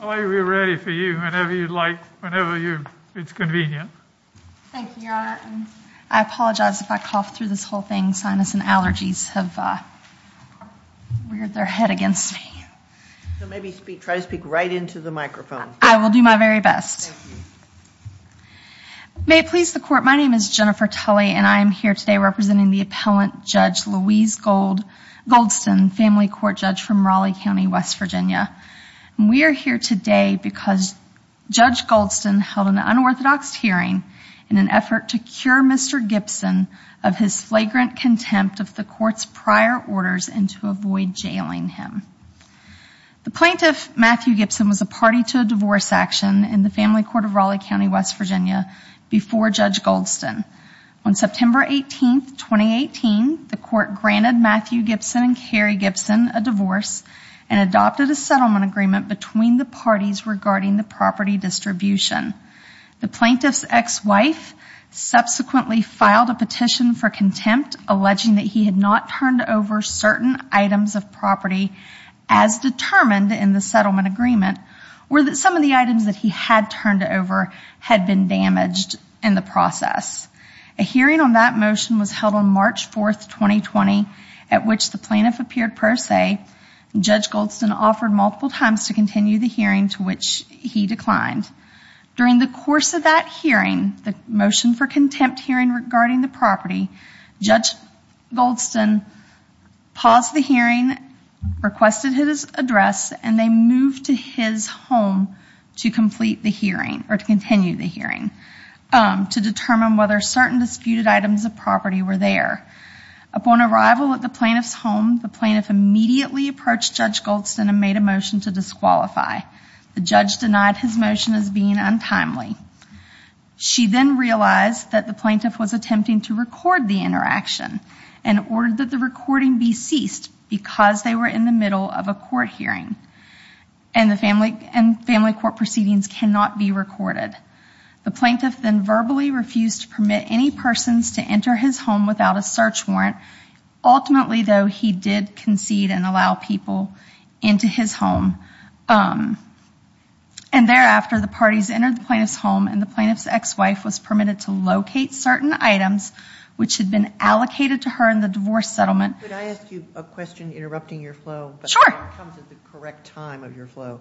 I'll be ready for you whenever you'd like, whenever it's convenient. Thank you, Your Honor. I apologize if I cough through this whole thing. Sinus and allergies have reared their head against me. So maybe try to speak right into the microphone. I will do my very best. Thank you. May it please the Court, my name is Jennifer Tully and I am here today representing the appellant Judge Louise Goldston, family court judge from Raleigh County, West Virginia. And we are here today because Judge Goldston held an unorthodox hearing in an effort to cure Mr. Gibson of his flagrant contempt of the court's prior orders and to avoid jailing him. The plaintiff, Matthew Gibson, was a party to a divorce action in the family court of Raleigh County, West Virginia before Judge Goldston. On September 18, 2018, the court granted Matthew Gibson and Carrie Gibson a divorce and adopted a settlement agreement between the parties regarding the property distribution. The plaintiff's ex-wife subsequently filed a petition for contempt, alleging that he had not turned over certain items of property as determined in the settlement agreement or that some of the items that he had turned over had been damaged in the process. A hearing on that motion was held on March 4, 2020, at which the plaintiff appeared pro se. Judge Goldston offered multiple times to continue the hearing, to which he declined. During the course of that hearing, the motion for contempt hearing regarding the property, Judge Goldston paused the hearing, requested his address, and they moved to his home to continue the hearing to determine whether certain disputed items of property were there. Upon arrival at the plaintiff's home, the plaintiff immediately approached Judge Goldston and made a motion to disqualify. The judge denied his motion as being untimely. She then realized that the plaintiff was attempting to record the interaction and ordered that the recording be ceased because they were in the middle of a court hearing and family court proceedings cannot be recorded. The plaintiff then verbally refused to permit any persons to enter his home without a search warrant. Ultimately, though, he did concede and allow people into his home. And thereafter, the parties entered the plaintiff's home, and the plaintiff's ex-wife was permitted to locate certain items which had been allocated to her in the divorce settlement. Could I ask you a question, interrupting your flow? Sure. It comes at the correct time of your flow.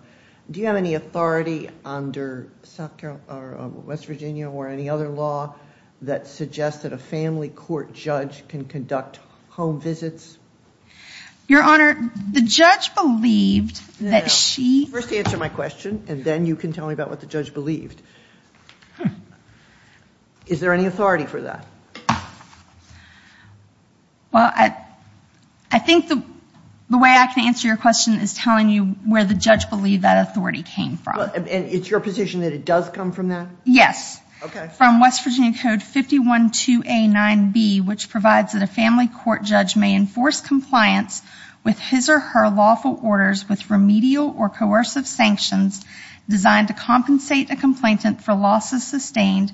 Do you have any authority under West Virginia or any other law that suggests that a family court judge can conduct home visits? Your Honor, the judge believed that she... First answer my question, and then you can tell me about what the judge believed. Is there any authority for that? Well, I think the way I can answer your question is telling you where the judge believed that authority came from. And it's your position that it does come from that? Yes. Okay. From West Virginia Code 512A9B, which provides that a family court judge may enforce compliance with his or her lawful orders with remedial or coercive sanctions designed to compensate a complainant for losses sustained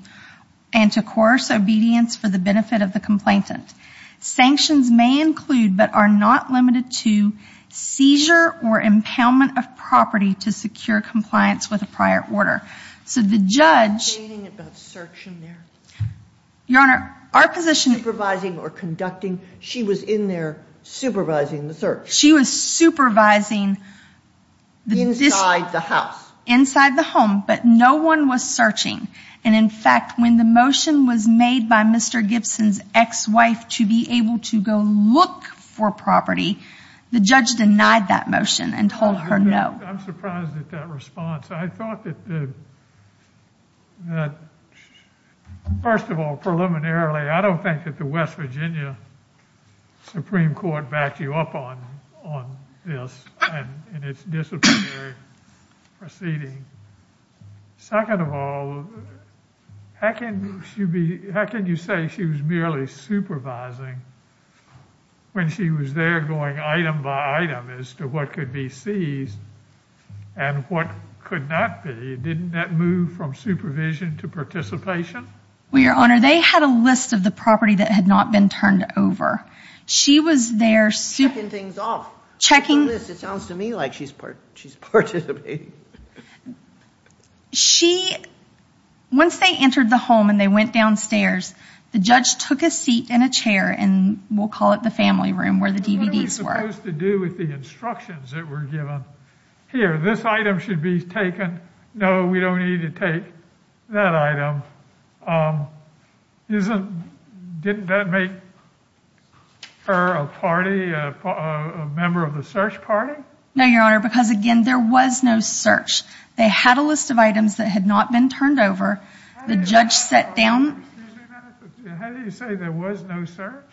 and to coerce obedience for the benefit of the complainant. Sanctions may include but are not limited to seizure or impoundment of property to secure compliance with a prior order. So the judge... Are you talking about searching there? Your Honor, our position... Supervising or conducting. She was in there supervising the search. She was supervising... Inside the house. Inside the home, but no one was searching. And in fact, when the motion was made by Mr. Gibson's ex-wife to be able to go look for property, the judge denied that motion and told her no. I'm surprised at that response. I thought that... First of all, preliminarily, I don't think that the West Virginia Supreme Court backed you up on this and its disciplinary proceedings. Second of all, how can you say she was merely supervising when she was there going item by item as to what could be seized and what could not be? Didn't that move from supervision to participation? Well, Your Honor, they had a list of the property that had not been turned over. She was there... Checking things off. Checking... It sounds to me like she's participating. She... Once they entered the home and they went downstairs, the judge took a seat in a chair and we'll call it the family room where the DVDs were. It was supposed to do with the instructions that were given. Here, this item should be taken. No, we don't need to take that item. Isn't... Didn't that make her a party, a member of the search party? No, Your Honor, because again, there was no search. They had a list of items that had not been turned over. The judge sat down... How do you say there was no search?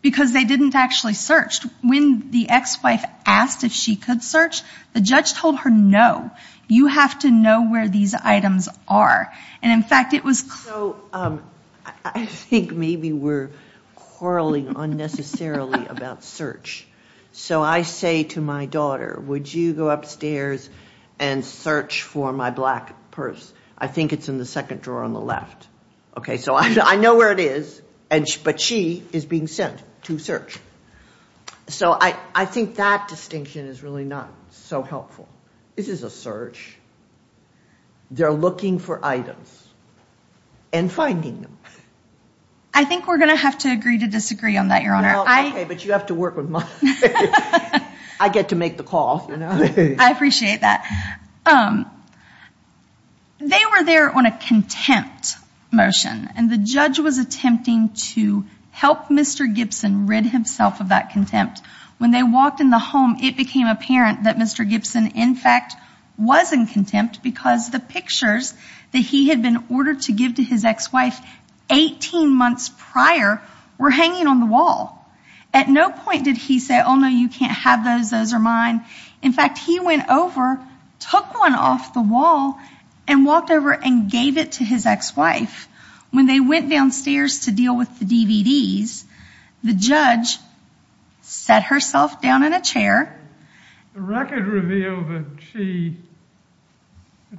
Because they didn't actually search. When the ex-wife asked if she could search, the judge told her no. You have to know where these items are. And in fact, it was... So I think maybe we're quarreling unnecessarily about search. So I say to my daughter, would you go upstairs and search for my black purse? I think it's in the second drawer on the left. Okay, so I know where it is, but she is being sent to search. So I think that distinction is really not so helpful. This is a search. They're looking for items and finding them. I think we're going to have to agree to disagree on that, Your Honor. Okay, but you have to work with my... I get to make the call. I appreciate that. They were there on a contempt motion, and the judge was attempting to help Mr. Gibson rid himself of that contempt. When they walked in the home, it became apparent that Mr. Gibson, in fact, was in contempt because the pictures that he had been ordered to give to his ex-wife 18 months prior were hanging on the wall. At no point did he say, oh, no, you can't have those. Those are mine. In fact, he went over, took one off the wall, and walked over and gave it to his ex-wife. When they went downstairs to deal with the DVDs, the judge sat herself down in a chair. The record revealed that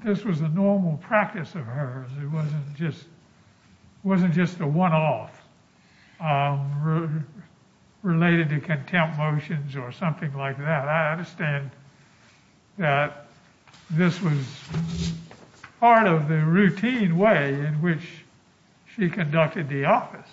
this was a normal practice of hers. It wasn't just a one-off related to contempt motions or something like that. I understand that this was part of the routine way in which she conducted the office.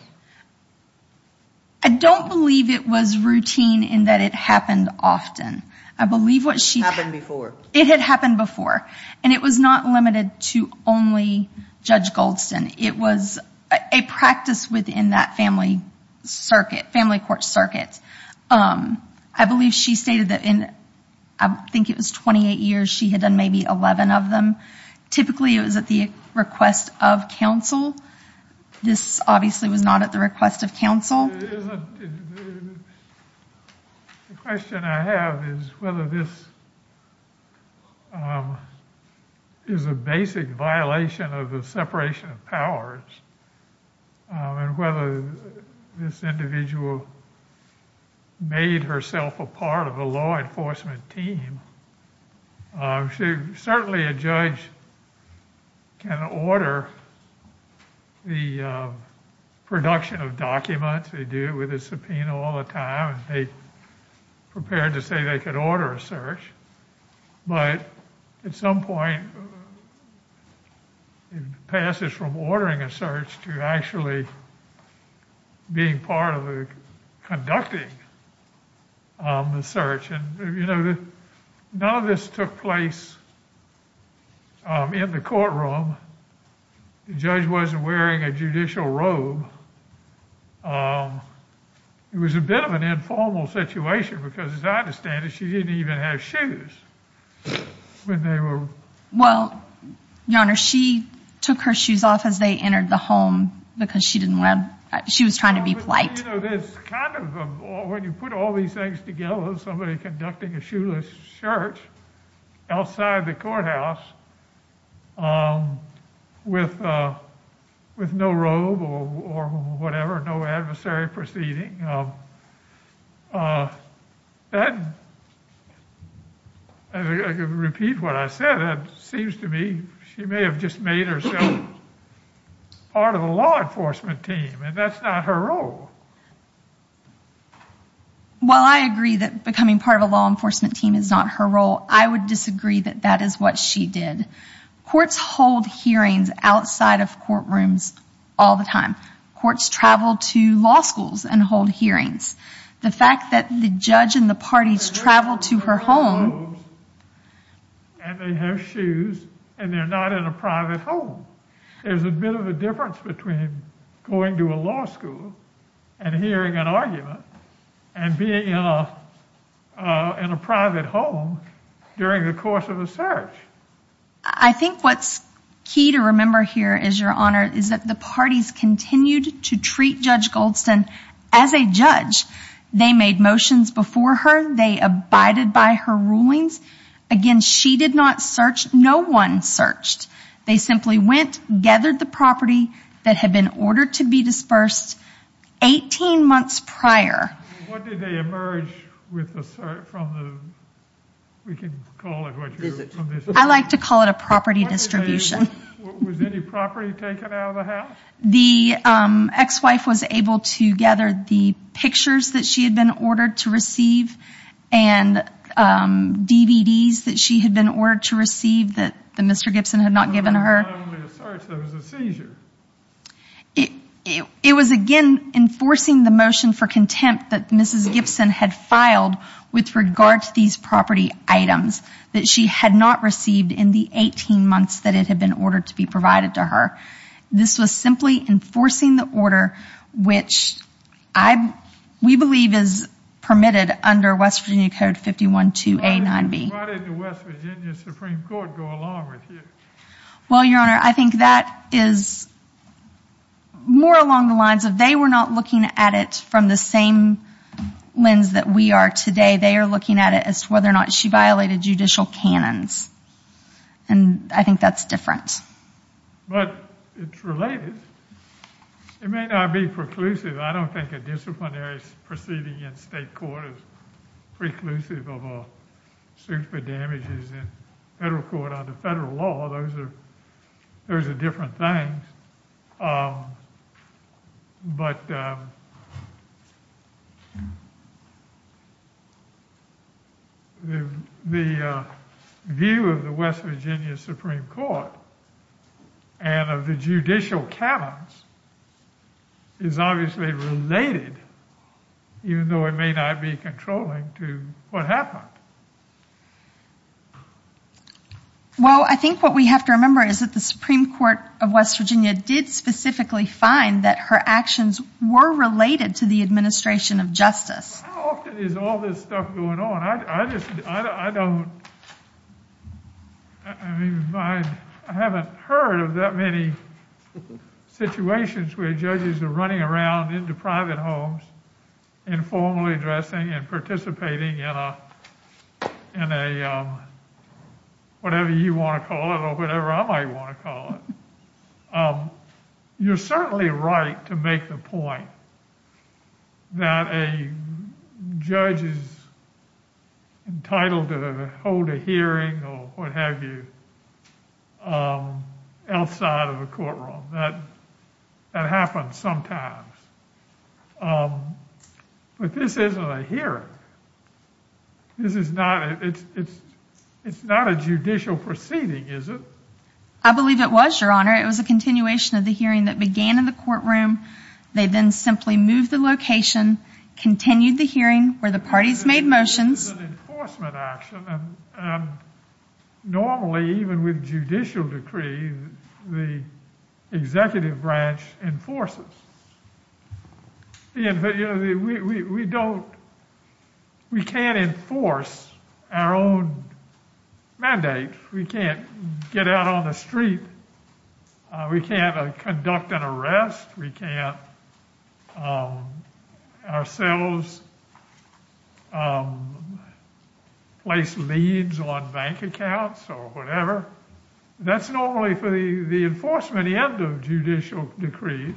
I don't believe it was routine in that it happened often. It happened before. It had happened before, and it was not limited to only Judge Goldston. It was a practice within that family court circuit. I believe she stated that in, I think it was 28 years, she had done maybe 11 of them. Typically, it was at the request of counsel. This obviously was not at the request of counsel. The question I have is whether this is a basic violation of the separation of powers and whether this individual made herself a part of a law enforcement team. Certainly, a judge can order the production of documents. They do it with a subpoena all the time. They prepared to say they could order a search. At some point, it passes from ordering a search to actually being part of conducting the search. None of this took place in the courtroom. The judge wasn't wearing a judicial robe. It was a bit of an informal situation because, as I understand it, she didn't even have shoes. Well, Your Honor, she took her shoes off as they entered the home because she was trying to be polite. When you put all these things together, somebody conducting a shoeless search outside the courthouse with no robe or whatever, no adversary proceeding, I could repeat what I said. It seems to me she may have just made herself part of a law enforcement team, and that's not her role. While I agree that becoming part of a law enforcement team is not her role, I would disagree that that is what she did. Courts hold hearings outside of courtrooms all the time. Courts travel to law schools and hold hearings. The fact that the judge and the parties travel to her home... And they have shoes, and they're not in a private home. There's a bit of a difference between going to a law school and hearing an argument and being in a private home during the course of a search. I think what's key to remember here is, Your Honor, is that the parties continued to treat Judge Goldston as a judge. They made motions before her. They abided by her rulings. Again, she did not search. No one searched. They simply went, gathered the property that had been ordered to be dispersed 18 months prior. What did they emerge with the search from the... We can call it what you... I like to call it a property distribution. Was any property taken out of the house? The ex-wife was able to gather the pictures that she had been ordered to receive and DVDs that she had been ordered to receive that Mr. Gibson had not given her. It was not only a search. It was a seizure. It was, again, enforcing the motion for contempt that Mrs. Gibson had filed with regard to these property items that she had not received in the 18 months that it had been ordered to be provided to her. This was simply enforcing the order which we believe is permitted under West Virginia Code 51-2A-9B. Why didn't the West Virginia Supreme Court go along with you? Well, Your Honor, I think that is more along the lines of they were not looking at it from the same lens that we are today. They are looking at it as to whether or not she violated judicial canons. And I think that's different. But it's related. It may not be preclusive. I don't think a disciplinary proceeding in state court is preclusive of a suit for damages in federal court under federal law. Those are different things. But the view of the West Virginia Supreme Court and of the judicial canons is obviously related, even though it may not be controlling, to what happened. Well, I think what we have to remember is that the Supreme Court of West Virginia did specifically find that her actions were related to the administration of justice. How often is all this stuff going on? I just, I don't, I mean, I haven't heard of that many situations where judges are running around into private homes informally dressing and participating in a, whatever you want to call it or whatever I might want to call it. You're certainly right to make the point that a judge is entitled to hold a hearing or what have you outside of a courtroom. That happens sometimes. But this isn't a hearing. This is not, it's not a judicial proceeding, is it? I believe it was, Your Honor. It was a continuation of the hearing that began in the courtroom. They then simply moved the location, continued the hearing where the parties made motions. This is an enforcement action. Normally, even with judicial decree, the executive branch enforces. We don't, we can't enforce our own mandate. We can't get out on the street. We can't conduct an arrest. We can't ourselves place leads on bank accounts or whatever. That's normally for the enforcement end of judicial decrees.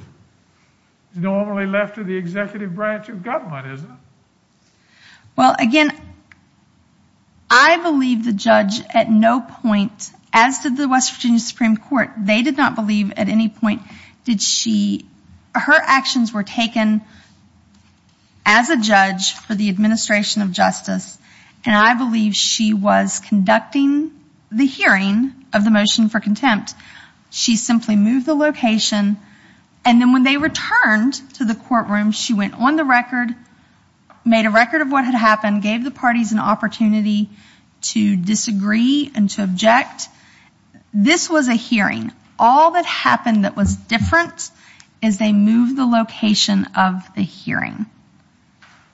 It's normally left to the executive branch of government, isn't it? Well, again, I believe the judge at no point, as did the West Virginia Supreme Court, they did not believe at any point did she, her actions were taken as a judge for the administration of justice. And I believe she was conducting the hearing of the motion for contempt. She simply moved the location. And then when they returned to the courtroom, she went on the record, made a record of what had happened, gave the parties an opportunity to disagree and to object. This was a hearing. All that happened that was different is they moved the location of the hearing.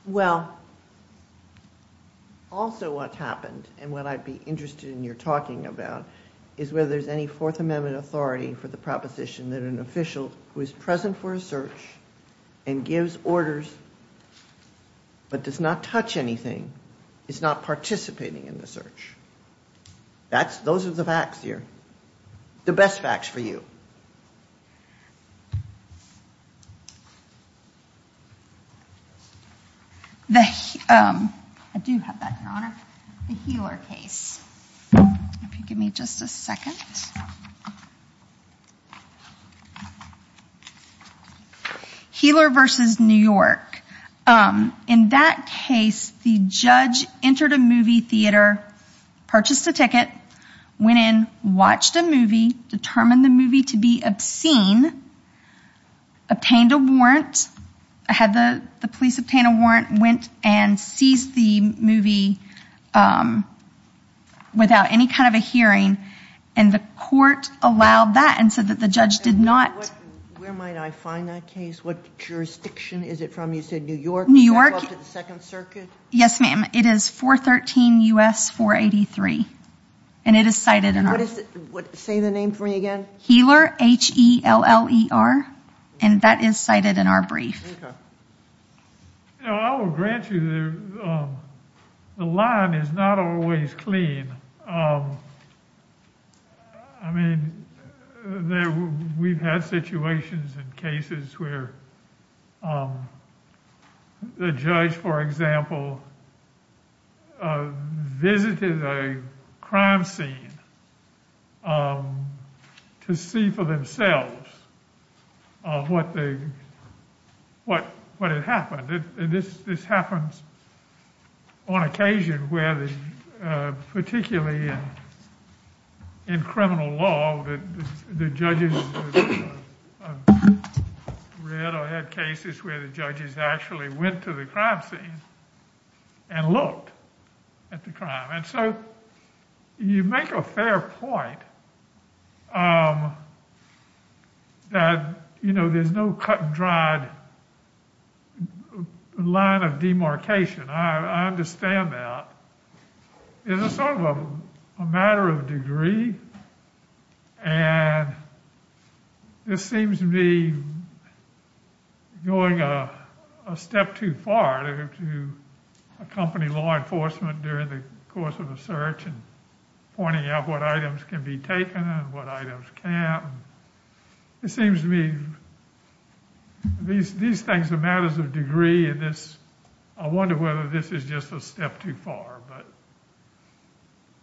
Well, also what happened, and what I'd be interested in your talking about, is whether there's any Fourth Amendment authority for the proposition that an official who is present for a search and gives orders but does not touch anything is not participating in the search. Those are the facts here. The best facts for you. I do have that, Your Honor. The Heeler case. If you give me just a second. Heeler versus New York. In that case, the judge entered a movie theater, purchased a ticket, went in, watched a movie, determined the movie to be obscene, obtained a warrant, had the police obtain a warrant, went and seized the movie without any kind of a hearing. And the court allowed that and said that the judge did not. Where might I find that case? What jurisdiction is it from? You said New York? New York. Back up to the Second Circuit? Yes, ma'am. It is 413 U.S. 483. And it is cited in our- Say the name for me again. Heeler, H-E-L-L-E-R. And that is cited in our brief. Okay. I will grant you the line is not always clean. I mean, we've had situations and cases where the judge, for example, visited a crime scene to see for themselves what had happened. This happens on occasion where particularly in criminal law, the judges read or had cases where the judges actually went to the crime scene and looked at the crime. And so you make a fair point that, you know, there's no cut and dried line of demarcation. I understand that. It's sort of a matter of degree. And this seems to me going a step too far to accompany law enforcement during the course of a search and pointing out what items can be taken and what items can't. It seems to me these things are matters of degree, and I wonder whether this is just a step too far.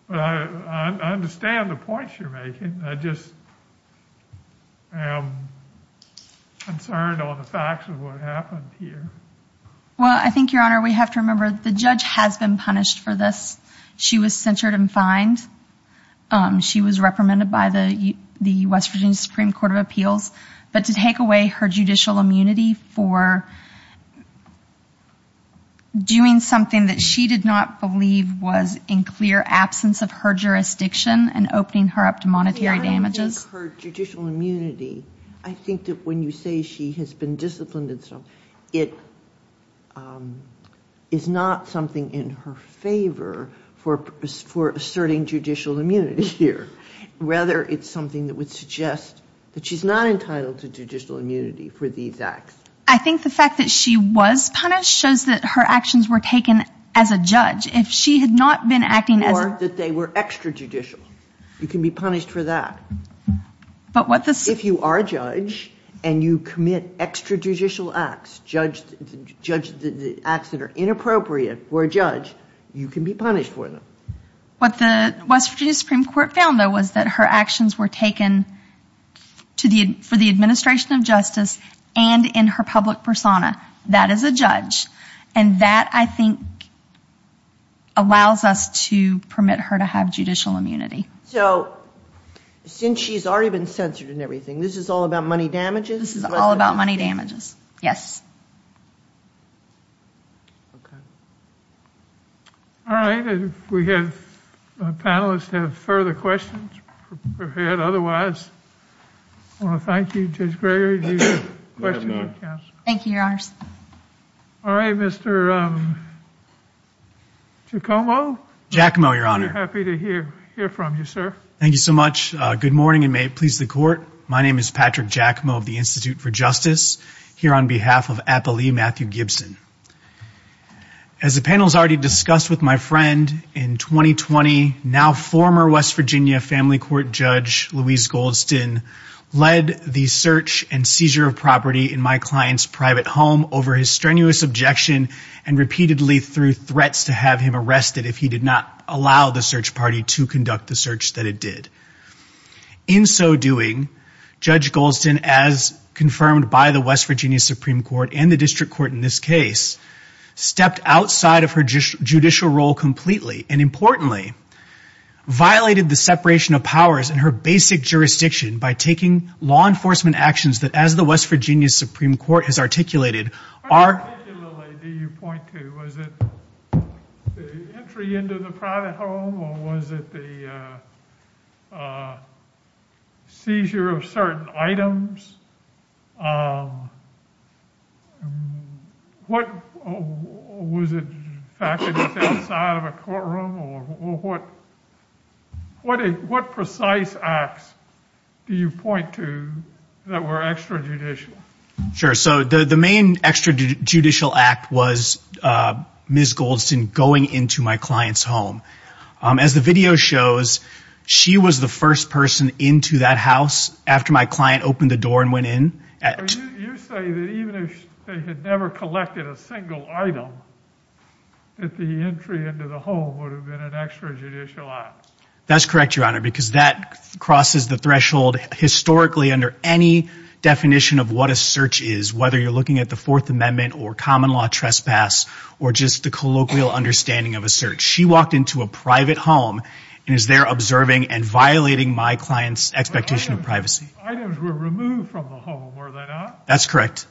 But I understand the points you're making. I just am concerned on the facts of what happened here. Well, I think, Your Honor, we have to remember the judge has been punished for this. She was censured and fined. She was reprimanded by the West Virginia Supreme Court of Appeals. But to take away her judicial immunity for doing something that she did not believe was in clear absence of her jurisdiction and opening her up to monetary damages. I don't think her judicial immunity, I think that when you say she has been disciplined and so on, it is not something in her favor for asserting judicial immunity here. Rather, it's something that would suggest that she's not entitled to judicial immunity for these acts. I think the fact that she was punished shows that her actions were taken as a judge. If she had not been acting as a... Or that they were extrajudicial. You can be punished for that. But what the... If you are a judge and you commit extrajudicial acts, acts that are inappropriate for a judge, you can be punished for them. What the West Virginia Supreme Court found, though, was that her actions were taken for the administration of justice and in her public persona. That is a judge. And that, I think, allows us to permit her to have judicial immunity. So, since she's already been censured and everything, this is all about money damages? This is all about money damages, yes. Okay. All right. If we have... If our panelists have further questions, or had otherwise, I want to thank you, Judge Greger. Do you have a question for counsel? No, I do not. Thank you, Your Honors. All right, Mr. Giacomo? Giacomo, Your Honor. I'm happy to hear from you, sir. Thank you so much. Good morning, and may it please the Court. My name is Patrick Giacomo of the Institute for Justice, here on behalf of Appellee Matthew Gibson. As the panel has already discussed with my friend, in 2020, now former West Virginia Family Court judge, Louise Goldston, led the search and seizure of property in my client's private home over his strenuous objection and repeatedly through threats to have him arrested if he did not allow the search party to conduct the search that it did. In so doing, Judge Goldston, as confirmed by the West Virginia Supreme Court and the district court in this case, stepped outside of her judicial role completely, and importantly, violated the separation of powers in her basic jurisdiction by taking law enforcement actions that, as the West Virginia Supreme Court has articulated, are... seizure of certain items. What was it? Was it inside of a courtroom, or what... What precise acts do you point to that were extrajudicial? Sure, so the main extrajudicial act was Ms. Goldston going into my client's home. As the video shows, she was the first person into that house after my client opened the door and went in. You say that even if they had never collected a single item, that the entry into the home would have been an extrajudicial act. That's correct, Your Honor, because that crosses the threshold historically under any definition of what a search is, whether you're looking at the Fourth Amendment or common law trespass, or just the colloquial understanding of a search. She walked into a private home and is there observing and violating my client's expectation of privacy. Items were removed from the home, were they not? That's correct.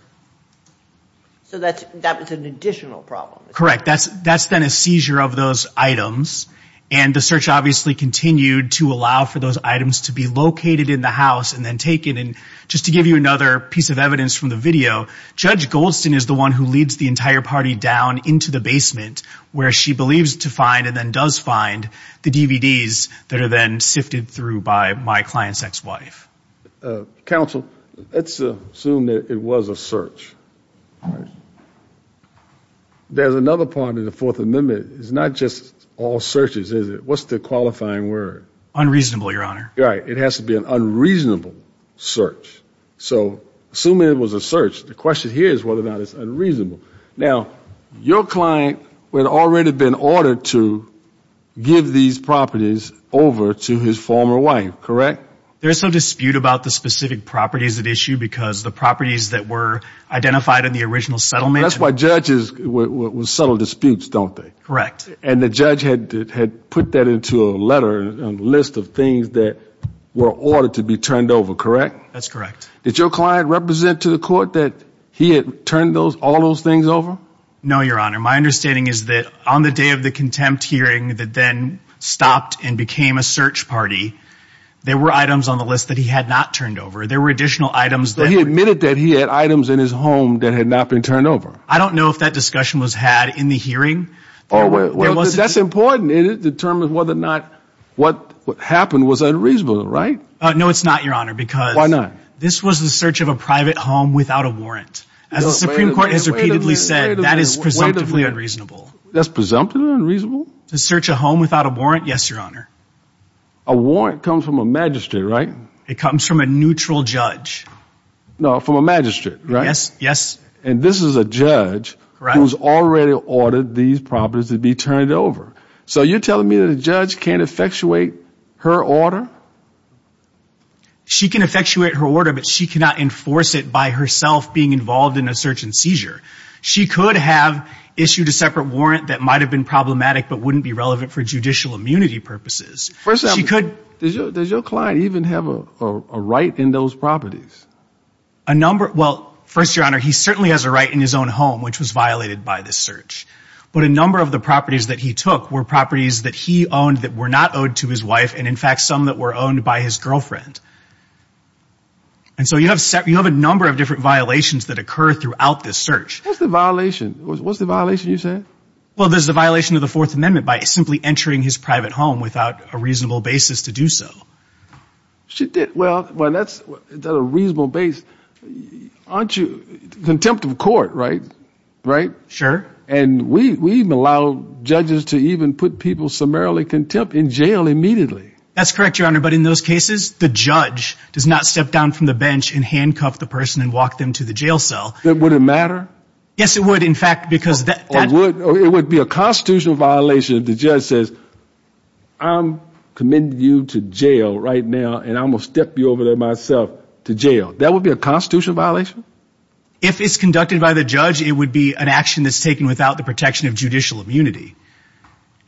So that was an additional problem. Correct, that's then a seizure of those items, and the search obviously continued to allow for those items to be located in the house and then taken, and just to give you another piece of evidence from the video, Judge Goldston is the one who leads the entire party down into the basement where she believes to find and then does find the DVDs that are then sifted through by my client's ex-wife. Counsel, let's assume that it was a search. There's another part of the Fourth Amendment. It's not just all searches, is it? What's the qualifying word? Unreasonable, Your Honor. Right. It has to be an unreasonable search. So assuming it was a search, the question here is whether or not it's unreasonable. Now, your client had already been ordered to give these properties over to his former wife, correct? There is some dispute about the specific properties at issue because the properties that were identified in the original settlement. That's why judges settle disputes, don't they? Correct. And the judge had put that into a letter, a list of things that were ordered to be turned over, correct? That's correct. Did your client represent to the court that he had turned all those things over? No, Your Honor. My understanding is that on the day of the contempt hearing that then stopped and became a search party, there were items on the list that he had not turned over. There were additional items that were turned over. So he admitted that he had items in his home that had not been turned over. I don't know if that discussion was had in the hearing. That's important. It determines whether or not what happened was unreasonable, right? No, it's not, Your Honor. Why not? This was the search of a private home without a warrant. As the Supreme Court has repeatedly said, that is presumptively unreasonable. That's presumptively unreasonable? To search a home without a warrant, yes, Your Honor. A warrant comes from a magistrate, right? It comes from a neutral judge. No, from a magistrate, right? Yes. And this is a judge who has already ordered these properties to be turned over. So you're telling me that a judge can't effectuate her order? She can effectuate her order, but she cannot enforce it by herself being involved in a search and seizure. She could have issued a separate warrant that might have been problematic but wouldn't be relevant for judicial immunity purposes. First, does your client even have a right in those properties? Well, first, Your Honor, he certainly has a right in his own home, which was violated by this search. But a number of the properties that he took were properties that he owned that were not owed to his wife and, in fact, some that were owned by his girlfriend. And so you have a number of different violations that occur throughout this search. What's the violation? What's the violation, you said? Well, there's the violation of the Fourth Amendment by simply entering his private home without a reasonable basis to do so. Well, that's a reasonable basis. Aren't you contempt of court, right? Sure. And we even allow judges to even put people summarily contempt in jail immediately. That's correct, Your Honor. But in those cases, the judge does not step down from the bench and handcuff the person and walk them to the jail cell. Would it matter? Yes, it would, in fact, because that would be a constitutional violation if the judge says, I'm committing you to jail right now, and I'm going to step you over there myself to jail. That would be a constitutional violation? If it's conducted by the judge, it would be an action that's taken without the protection of judicial immunity.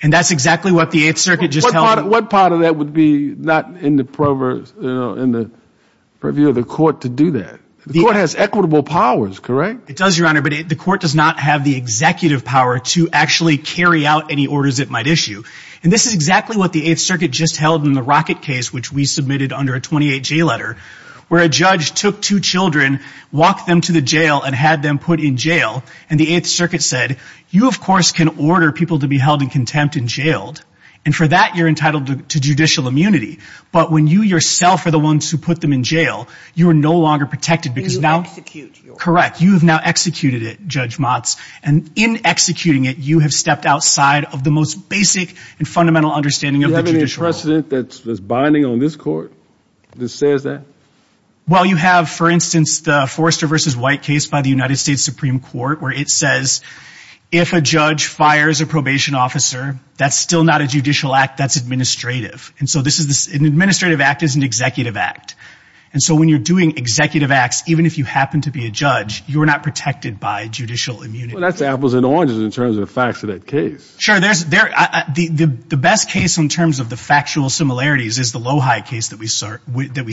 And that's exactly what the Eighth Circuit just held. What part of that would be not in the purview of the court to do that? The court has equitable powers, correct? It does, Your Honor, but the court does not have the executive power to actually carry out any orders it might issue. And this is exactly what the Eighth Circuit just held in the Rocket case, which we submitted under a 28-J letter, where a judge took two children, walked them to the jail, and had them put in jail. And the Eighth Circuit said, you, of course, can order people to be held in contempt and jailed, and for that you're entitled to judicial immunity. But when you yourself are the ones who put them in jail, you are no longer protected. You execute. Correct. You have now executed it, Judge Motz. And in executing it, you have stepped outside of the most basic and fundamental understanding of the judicial world. Is there a precedent that's binding on this court that says that? Well, you have, for instance, the Forrester v. White case by the United States Supreme Court, where it says if a judge fires a probation officer, that's still not a judicial act, that's administrative. And so an administrative act is an executive act. And so when you're doing executive acts, even if you happen to be a judge, you are not protected by judicial immunity. Well, that's apples and oranges in terms of the facts of that case. Sure. The best case in terms of the factual similarities is the Lohi case that we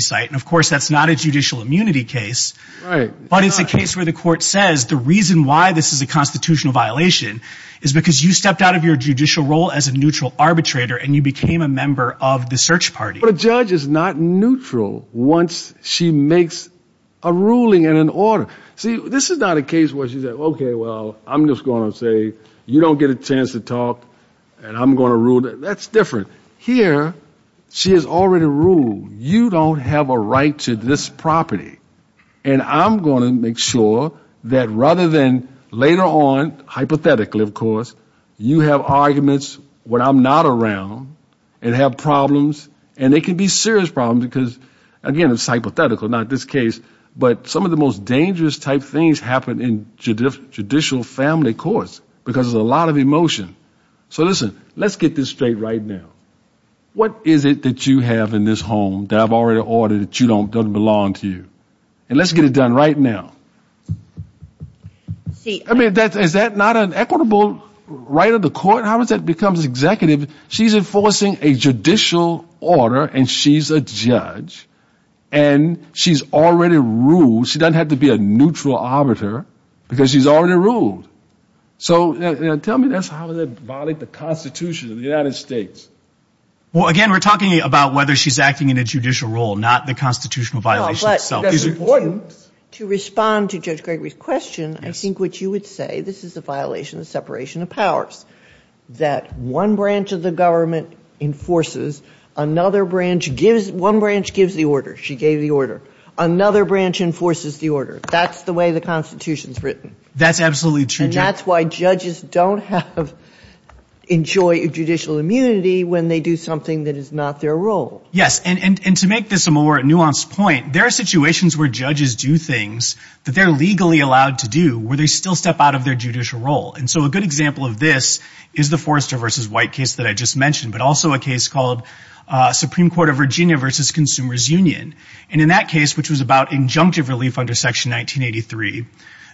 cite. And, of course, that's not a judicial immunity case. But it's a case where the court says the reason why this is a constitutional violation is because you stepped out of your judicial role as a neutral arbitrator and you became a member of the search party. But a judge is not neutral once she makes a ruling and an order. See, this is not a case where she says, okay, well, I'm just going to say, you don't get a chance to talk, and I'm going to rule. That's different. Here she has already ruled. You don't have a right to this property. And I'm going to make sure that rather than later on, hypothetically, of course, you have arguments when I'm not around and have problems, and they can be serious problems, because, again, it's hypothetical, not this case. But some of the most dangerous type things happen in judicial family courts because there's a lot of emotion. So, listen, let's get this straight right now. What is it that you have in this home that I've already ordered that doesn't belong to you? And let's get it done right now. I mean, is that not an equitable right of the court? How does that become executive? She's enforcing a judicial order, and she's a judge. And she's already ruled. She doesn't have to be a neutral arbiter because she's already ruled. So tell me, how does that violate the Constitution of the United States? Well, again, we're talking about whether she's acting in a judicial role, not the constitutional violation itself. It's important to respond to Judge Gregory's question. I think what you would say, this is a violation of separation of powers, that one branch of the government enforces. Another branch gives the order. She gave the order. Another branch enforces the order. That's the way the Constitution is written. That's absolutely true. And that's why judges don't enjoy judicial immunity when they do something that is not their role. Yes, and to make this a more nuanced point, there are situations where judges do things that they're legally allowed to do where they still step out of their judicial role. And so a good example of this is the Forrester v. White case that I just mentioned, but also a case called Supreme Court of Virginia v. Consumers Union. And in that case, which was about injunctive relief under Section 1983,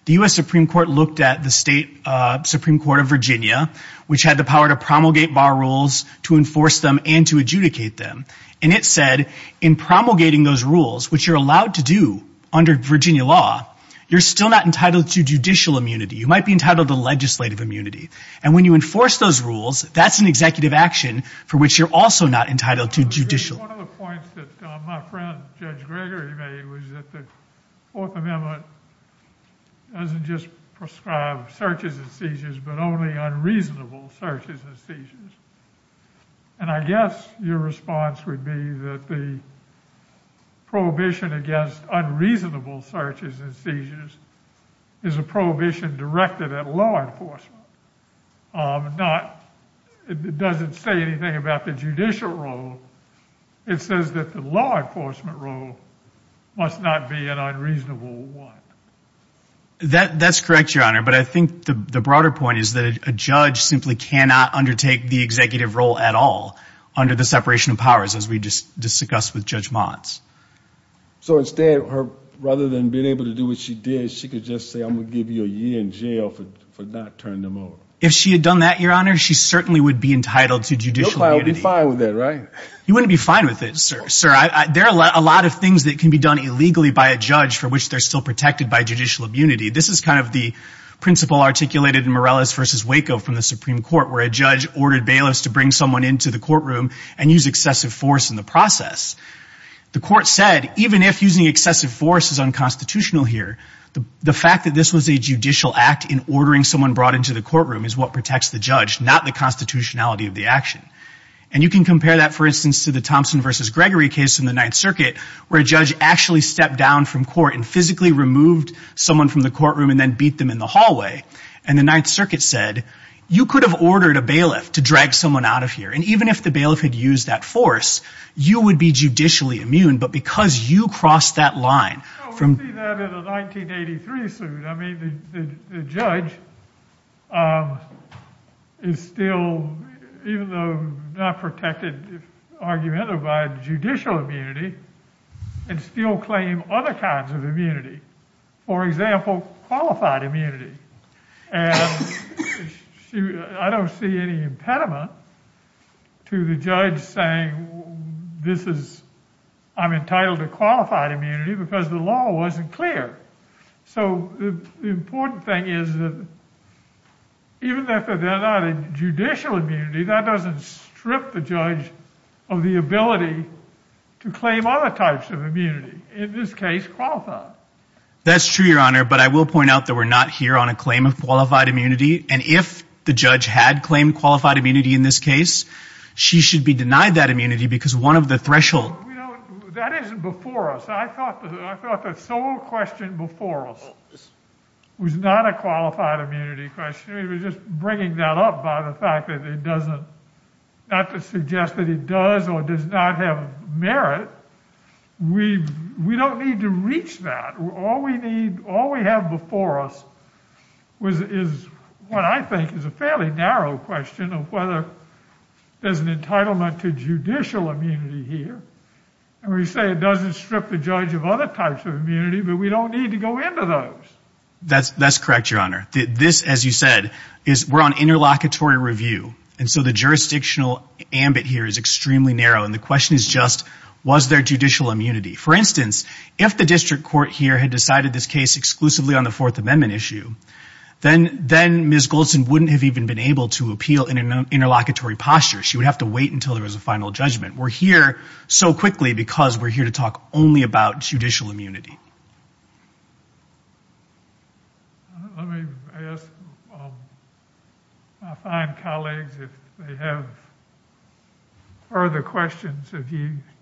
the U.S. Supreme Court looked at the State Supreme Court of Virginia, which had the power to promulgate bar rules, to enforce them, and to adjudicate them. And it said in promulgating those rules, which you're allowed to do under Virginia law, you're still not entitled to judicial immunity. You might be entitled to legislative immunity. And when you enforce those rules, that's an executive action for which you're also not entitled to judicial. One of the points that my friend Judge Gregory made was that the Fourth Amendment doesn't just prescribe searches and seizures, but only unreasonable searches and seizures. And I guess your response would be that the prohibition against unreasonable searches and seizures is a prohibition directed at law enforcement. It doesn't say anything about the judicial role. It says that the law enforcement role must not be an unreasonable one. That's correct, Your Honor. But I think the broader point is that a judge simply cannot undertake the executive role at all under the separation of powers, as we just discussed with Judge Motz. So instead, rather than being able to do what she did, she could just say, I'm going to give you a year in jail for not turning them over. If she had done that, Your Honor, she certainly would be entitled to judicial immunity. Nobody would be fine with that, right? You wouldn't be fine with it, sir. There are a lot of things that can be done illegally by a judge for which they're still protected by judicial immunity. This is kind of the principle articulated in Morales v. Waco from the Supreme Court, where a judge ordered bailiffs to bring someone into the courtroom and use excessive force in the process. The court said, even if using excessive force is unconstitutional here, the fact that this was a judicial act in ordering someone brought into the courtroom is what protects the judge, not the constitutionality of the action. And you can compare that, for instance, to the Thompson v. Gregory case in the Ninth Circuit, where a judge actually stepped down from court and physically removed someone from the courtroom and then beat them in the hallway. And the Ninth Circuit said, you could have ordered a bailiff to drag someone out of here. And even if the bailiff had used that force, you would be judicially immune. But because you crossed that line from... No, we see that in the 1983 suit. I mean, the judge is still, even though not protected, argumentatively, by judicial immunity, can still claim other kinds of immunity, for example, qualified immunity. And I don't see any impediment to the judge saying, I'm entitled to qualified immunity because the law wasn't clear. So the important thing is that even if they're not in judicial immunity, that doesn't strip the judge of the ability to claim other types of immunity, in this case, qualified. That's true, Your Honor. But I will point out that we're not here on a claim of qualified immunity. And if the judge had claimed qualified immunity in this case, she should be denied that immunity because one of the thresholds... You know, that isn't before us. I thought the sole question before us was not a qualified immunity question. We were just bringing that up by the fact that it doesn't, not to suggest that it does or does not have merit. But we don't need to reach that. All we have before us is what I think is a fairly narrow question of whether there's an entitlement to judicial immunity here. And we say it doesn't strip the judge of other types of immunity, but we don't need to go into those. That's correct, Your Honor. This, as you said, we're on interlocutory review. And so the jurisdictional ambit here is extremely narrow. And the question is just, was there judicial immunity? For instance, if the district court here had decided this case exclusively on the Fourth Amendment issue, then Ms. Goldson wouldn't have even been able to appeal in an interlocutory posture. She would have to wait until there was a final judgment. We're here so quickly because we're here to talk only about judicial immunity. Let me ask my fine colleagues if they have further questions.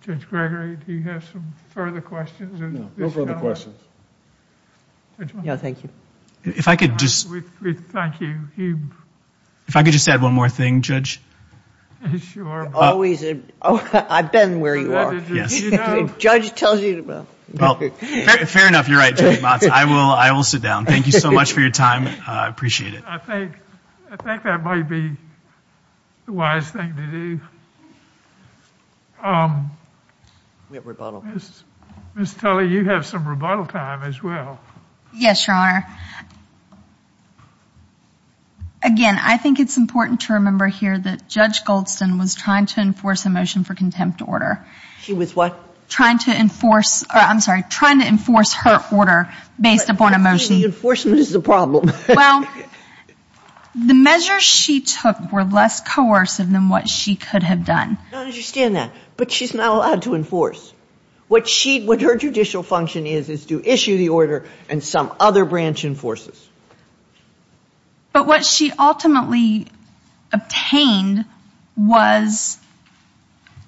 Judge Gregory, do you have some further questions? No. No further questions. Thank you. If I could just add one more thing, Judge. I've been where you are. The judge tells you to go. Fair enough. You're right, Judge Motz. I will sit down. Thank you so much for your time. I appreciate it. I think that might be the wise thing to do. Ms. Tully, you have some rebuttal time as well. Yes, Your Honor. Again, I think it's important to remember here that Judge Goldston was trying to enforce a motion for contempt order. She was what? Trying to enforce her order based upon a motion. The enforcement is the problem. Well, the measures she took were less coercive than what she could have done. I understand that. But she's not allowed to enforce. What her judicial function is is to issue the order and some other branch enforces. But what she ultimately obtained was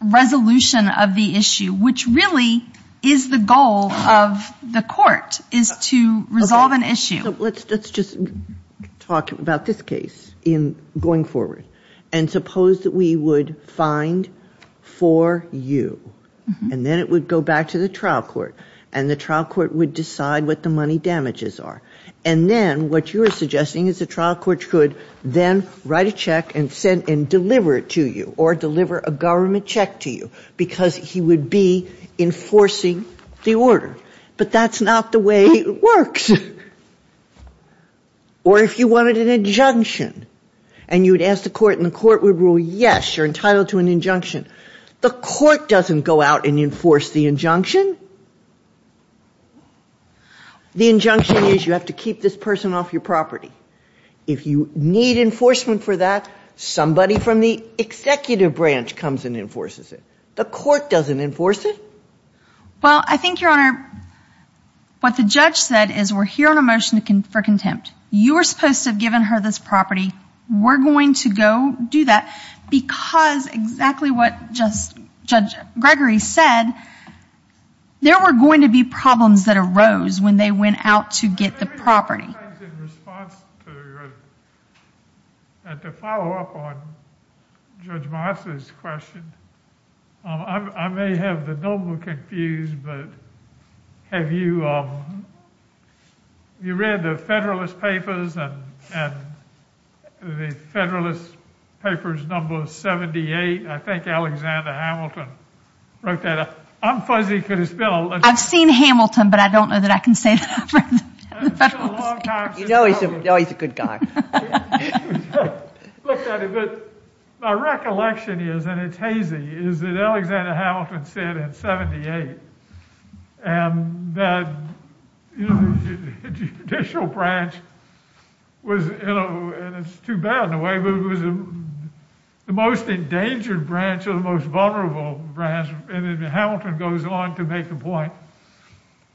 resolution of the issue, which really is the goal of the court, is to resolve an issue. Let's just talk about this case going forward. And suppose that we would find four U. And then it would go back to the trial court. And the trial court would decide what the money damages are. And then what you are suggesting is the trial court could then write a check and deliver it to you or deliver a government check to you because he would be enforcing the order. But that's not the way it works. Or if you wanted an injunction and you would ask the court and the court would rule yes, you're entitled to an injunction, the court doesn't go out and enforce the injunction. The injunction is you have to keep this person off your property. If you need enforcement for that, somebody from the executive branch comes and enforces it. The court doesn't enforce it. Well, I think, Your Honor, what the judge said is we're here on a motion for contempt. You were supposed to have given her this property. We're going to go do that. Because exactly what Judge Gregory said, there were going to be problems that arose when they went out to get the property. To follow up on Judge Meisler's question, I may have the noble confused, but have you read the Federalist Papers and the Federalist Papers number 78? I think Alexander Hamilton wrote that. I'm fuzzy because it's been a long time. I've seen Hamilton, but I don't know that I can say that for the Federalist Papers. You know he's a good guy. My recollection is, and it's hazy, is that Alexander Hamilton said in 78 that the judicial branch was, and it's too bad in a way, but it was the most endangered branch or the most vulnerable branch, and then Hamilton goes on to make the point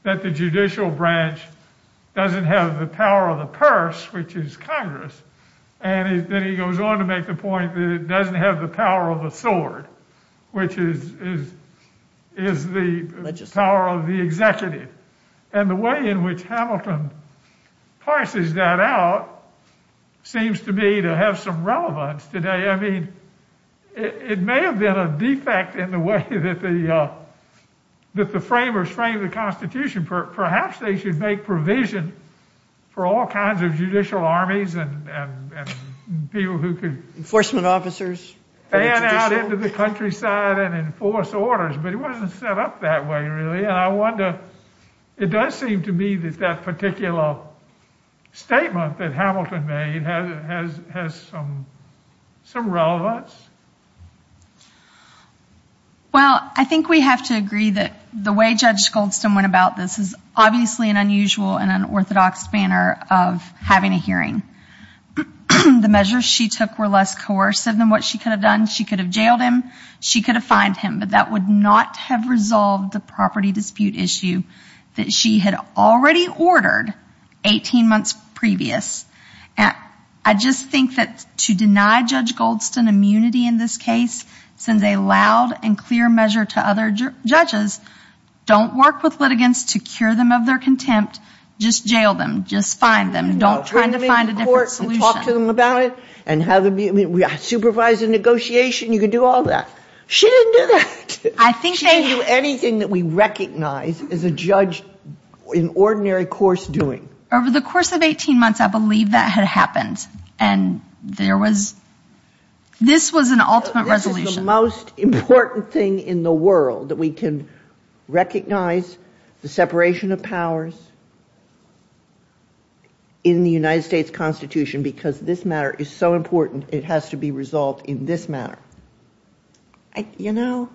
that the judicial branch doesn't have the power of the purse, which is Congress, and then he goes on to make the point that it doesn't have the power of the sword, which is the power of the executive. And the way in which Hamilton parses that out seems to me to have some relevance today. I mean, it may have been a defect in the way that the framers framed the Constitution. Perhaps they should make provision for all kinds of judicial armies and people who could ban out into the countryside and enforce orders. But it wasn't set up that way, really. And I wonder, it does seem to me that that particular statement that Hamilton made has some relevance. Well, I think we have to agree that the way Judge Goldston went about this is obviously an unusual and unorthodox manner of having a hearing. The measures she took were less coercive than what she could have done. She could have jailed him. She could have fined him, but that would not have resolved the property dispute issue that she had already ordered 18 months previous. I just think that to deny Judge Goldston immunity in this case sends a loud and clear measure to other judges. Don't work with litigants to cure them of their contempt. Just jail them. Just fine them. Don't try to find a different solution. Talk to them about it. Supervise a negotiation. You can do all that. She didn't do that. She didn't do anything that we recognize as a judge in ordinary course doing. Over the course of 18 months, I believe that had happened. And there was this was an ultimate resolution. I think that's the most important thing in the world, that we can recognize the separation of powers in the United States Constitution because this matter is so important it has to be resolved in this matter. You know,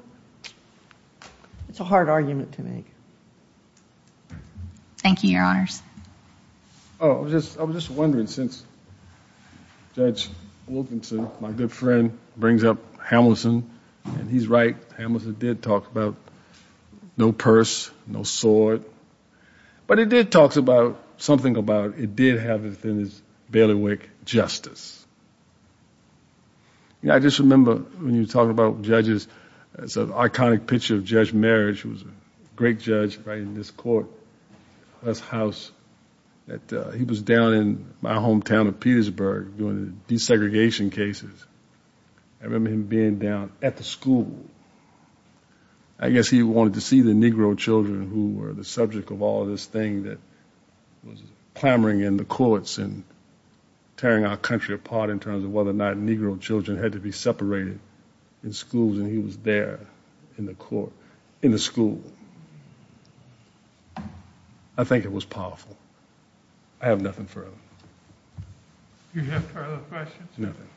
it's a hard argument to make. Thank you, Your Honors. Oh, I was just wondering since Judge Wilkinson, my good friend, brings up Hamilton, and he's right. Hamilton did talk about no purse, no sword. But it did talk about something about it did have within its bailiwick justice. You know, I just remember when you were talking about judges, there's an iconic picture of Judge Marich who was a great judge right in this court, this house. He was down in my hometown of Petersburg doing desegregation cases. I remember him being down at the school. I guess he wanted to see the Negro children who were the subject of all this thing that was clamoring in the courts and tearing our country apart in terms of whether or not Negro children had to be separated in schools. And he was there in the school. I think it was powerful. I have nothing further. Do you have further questions? Nothing.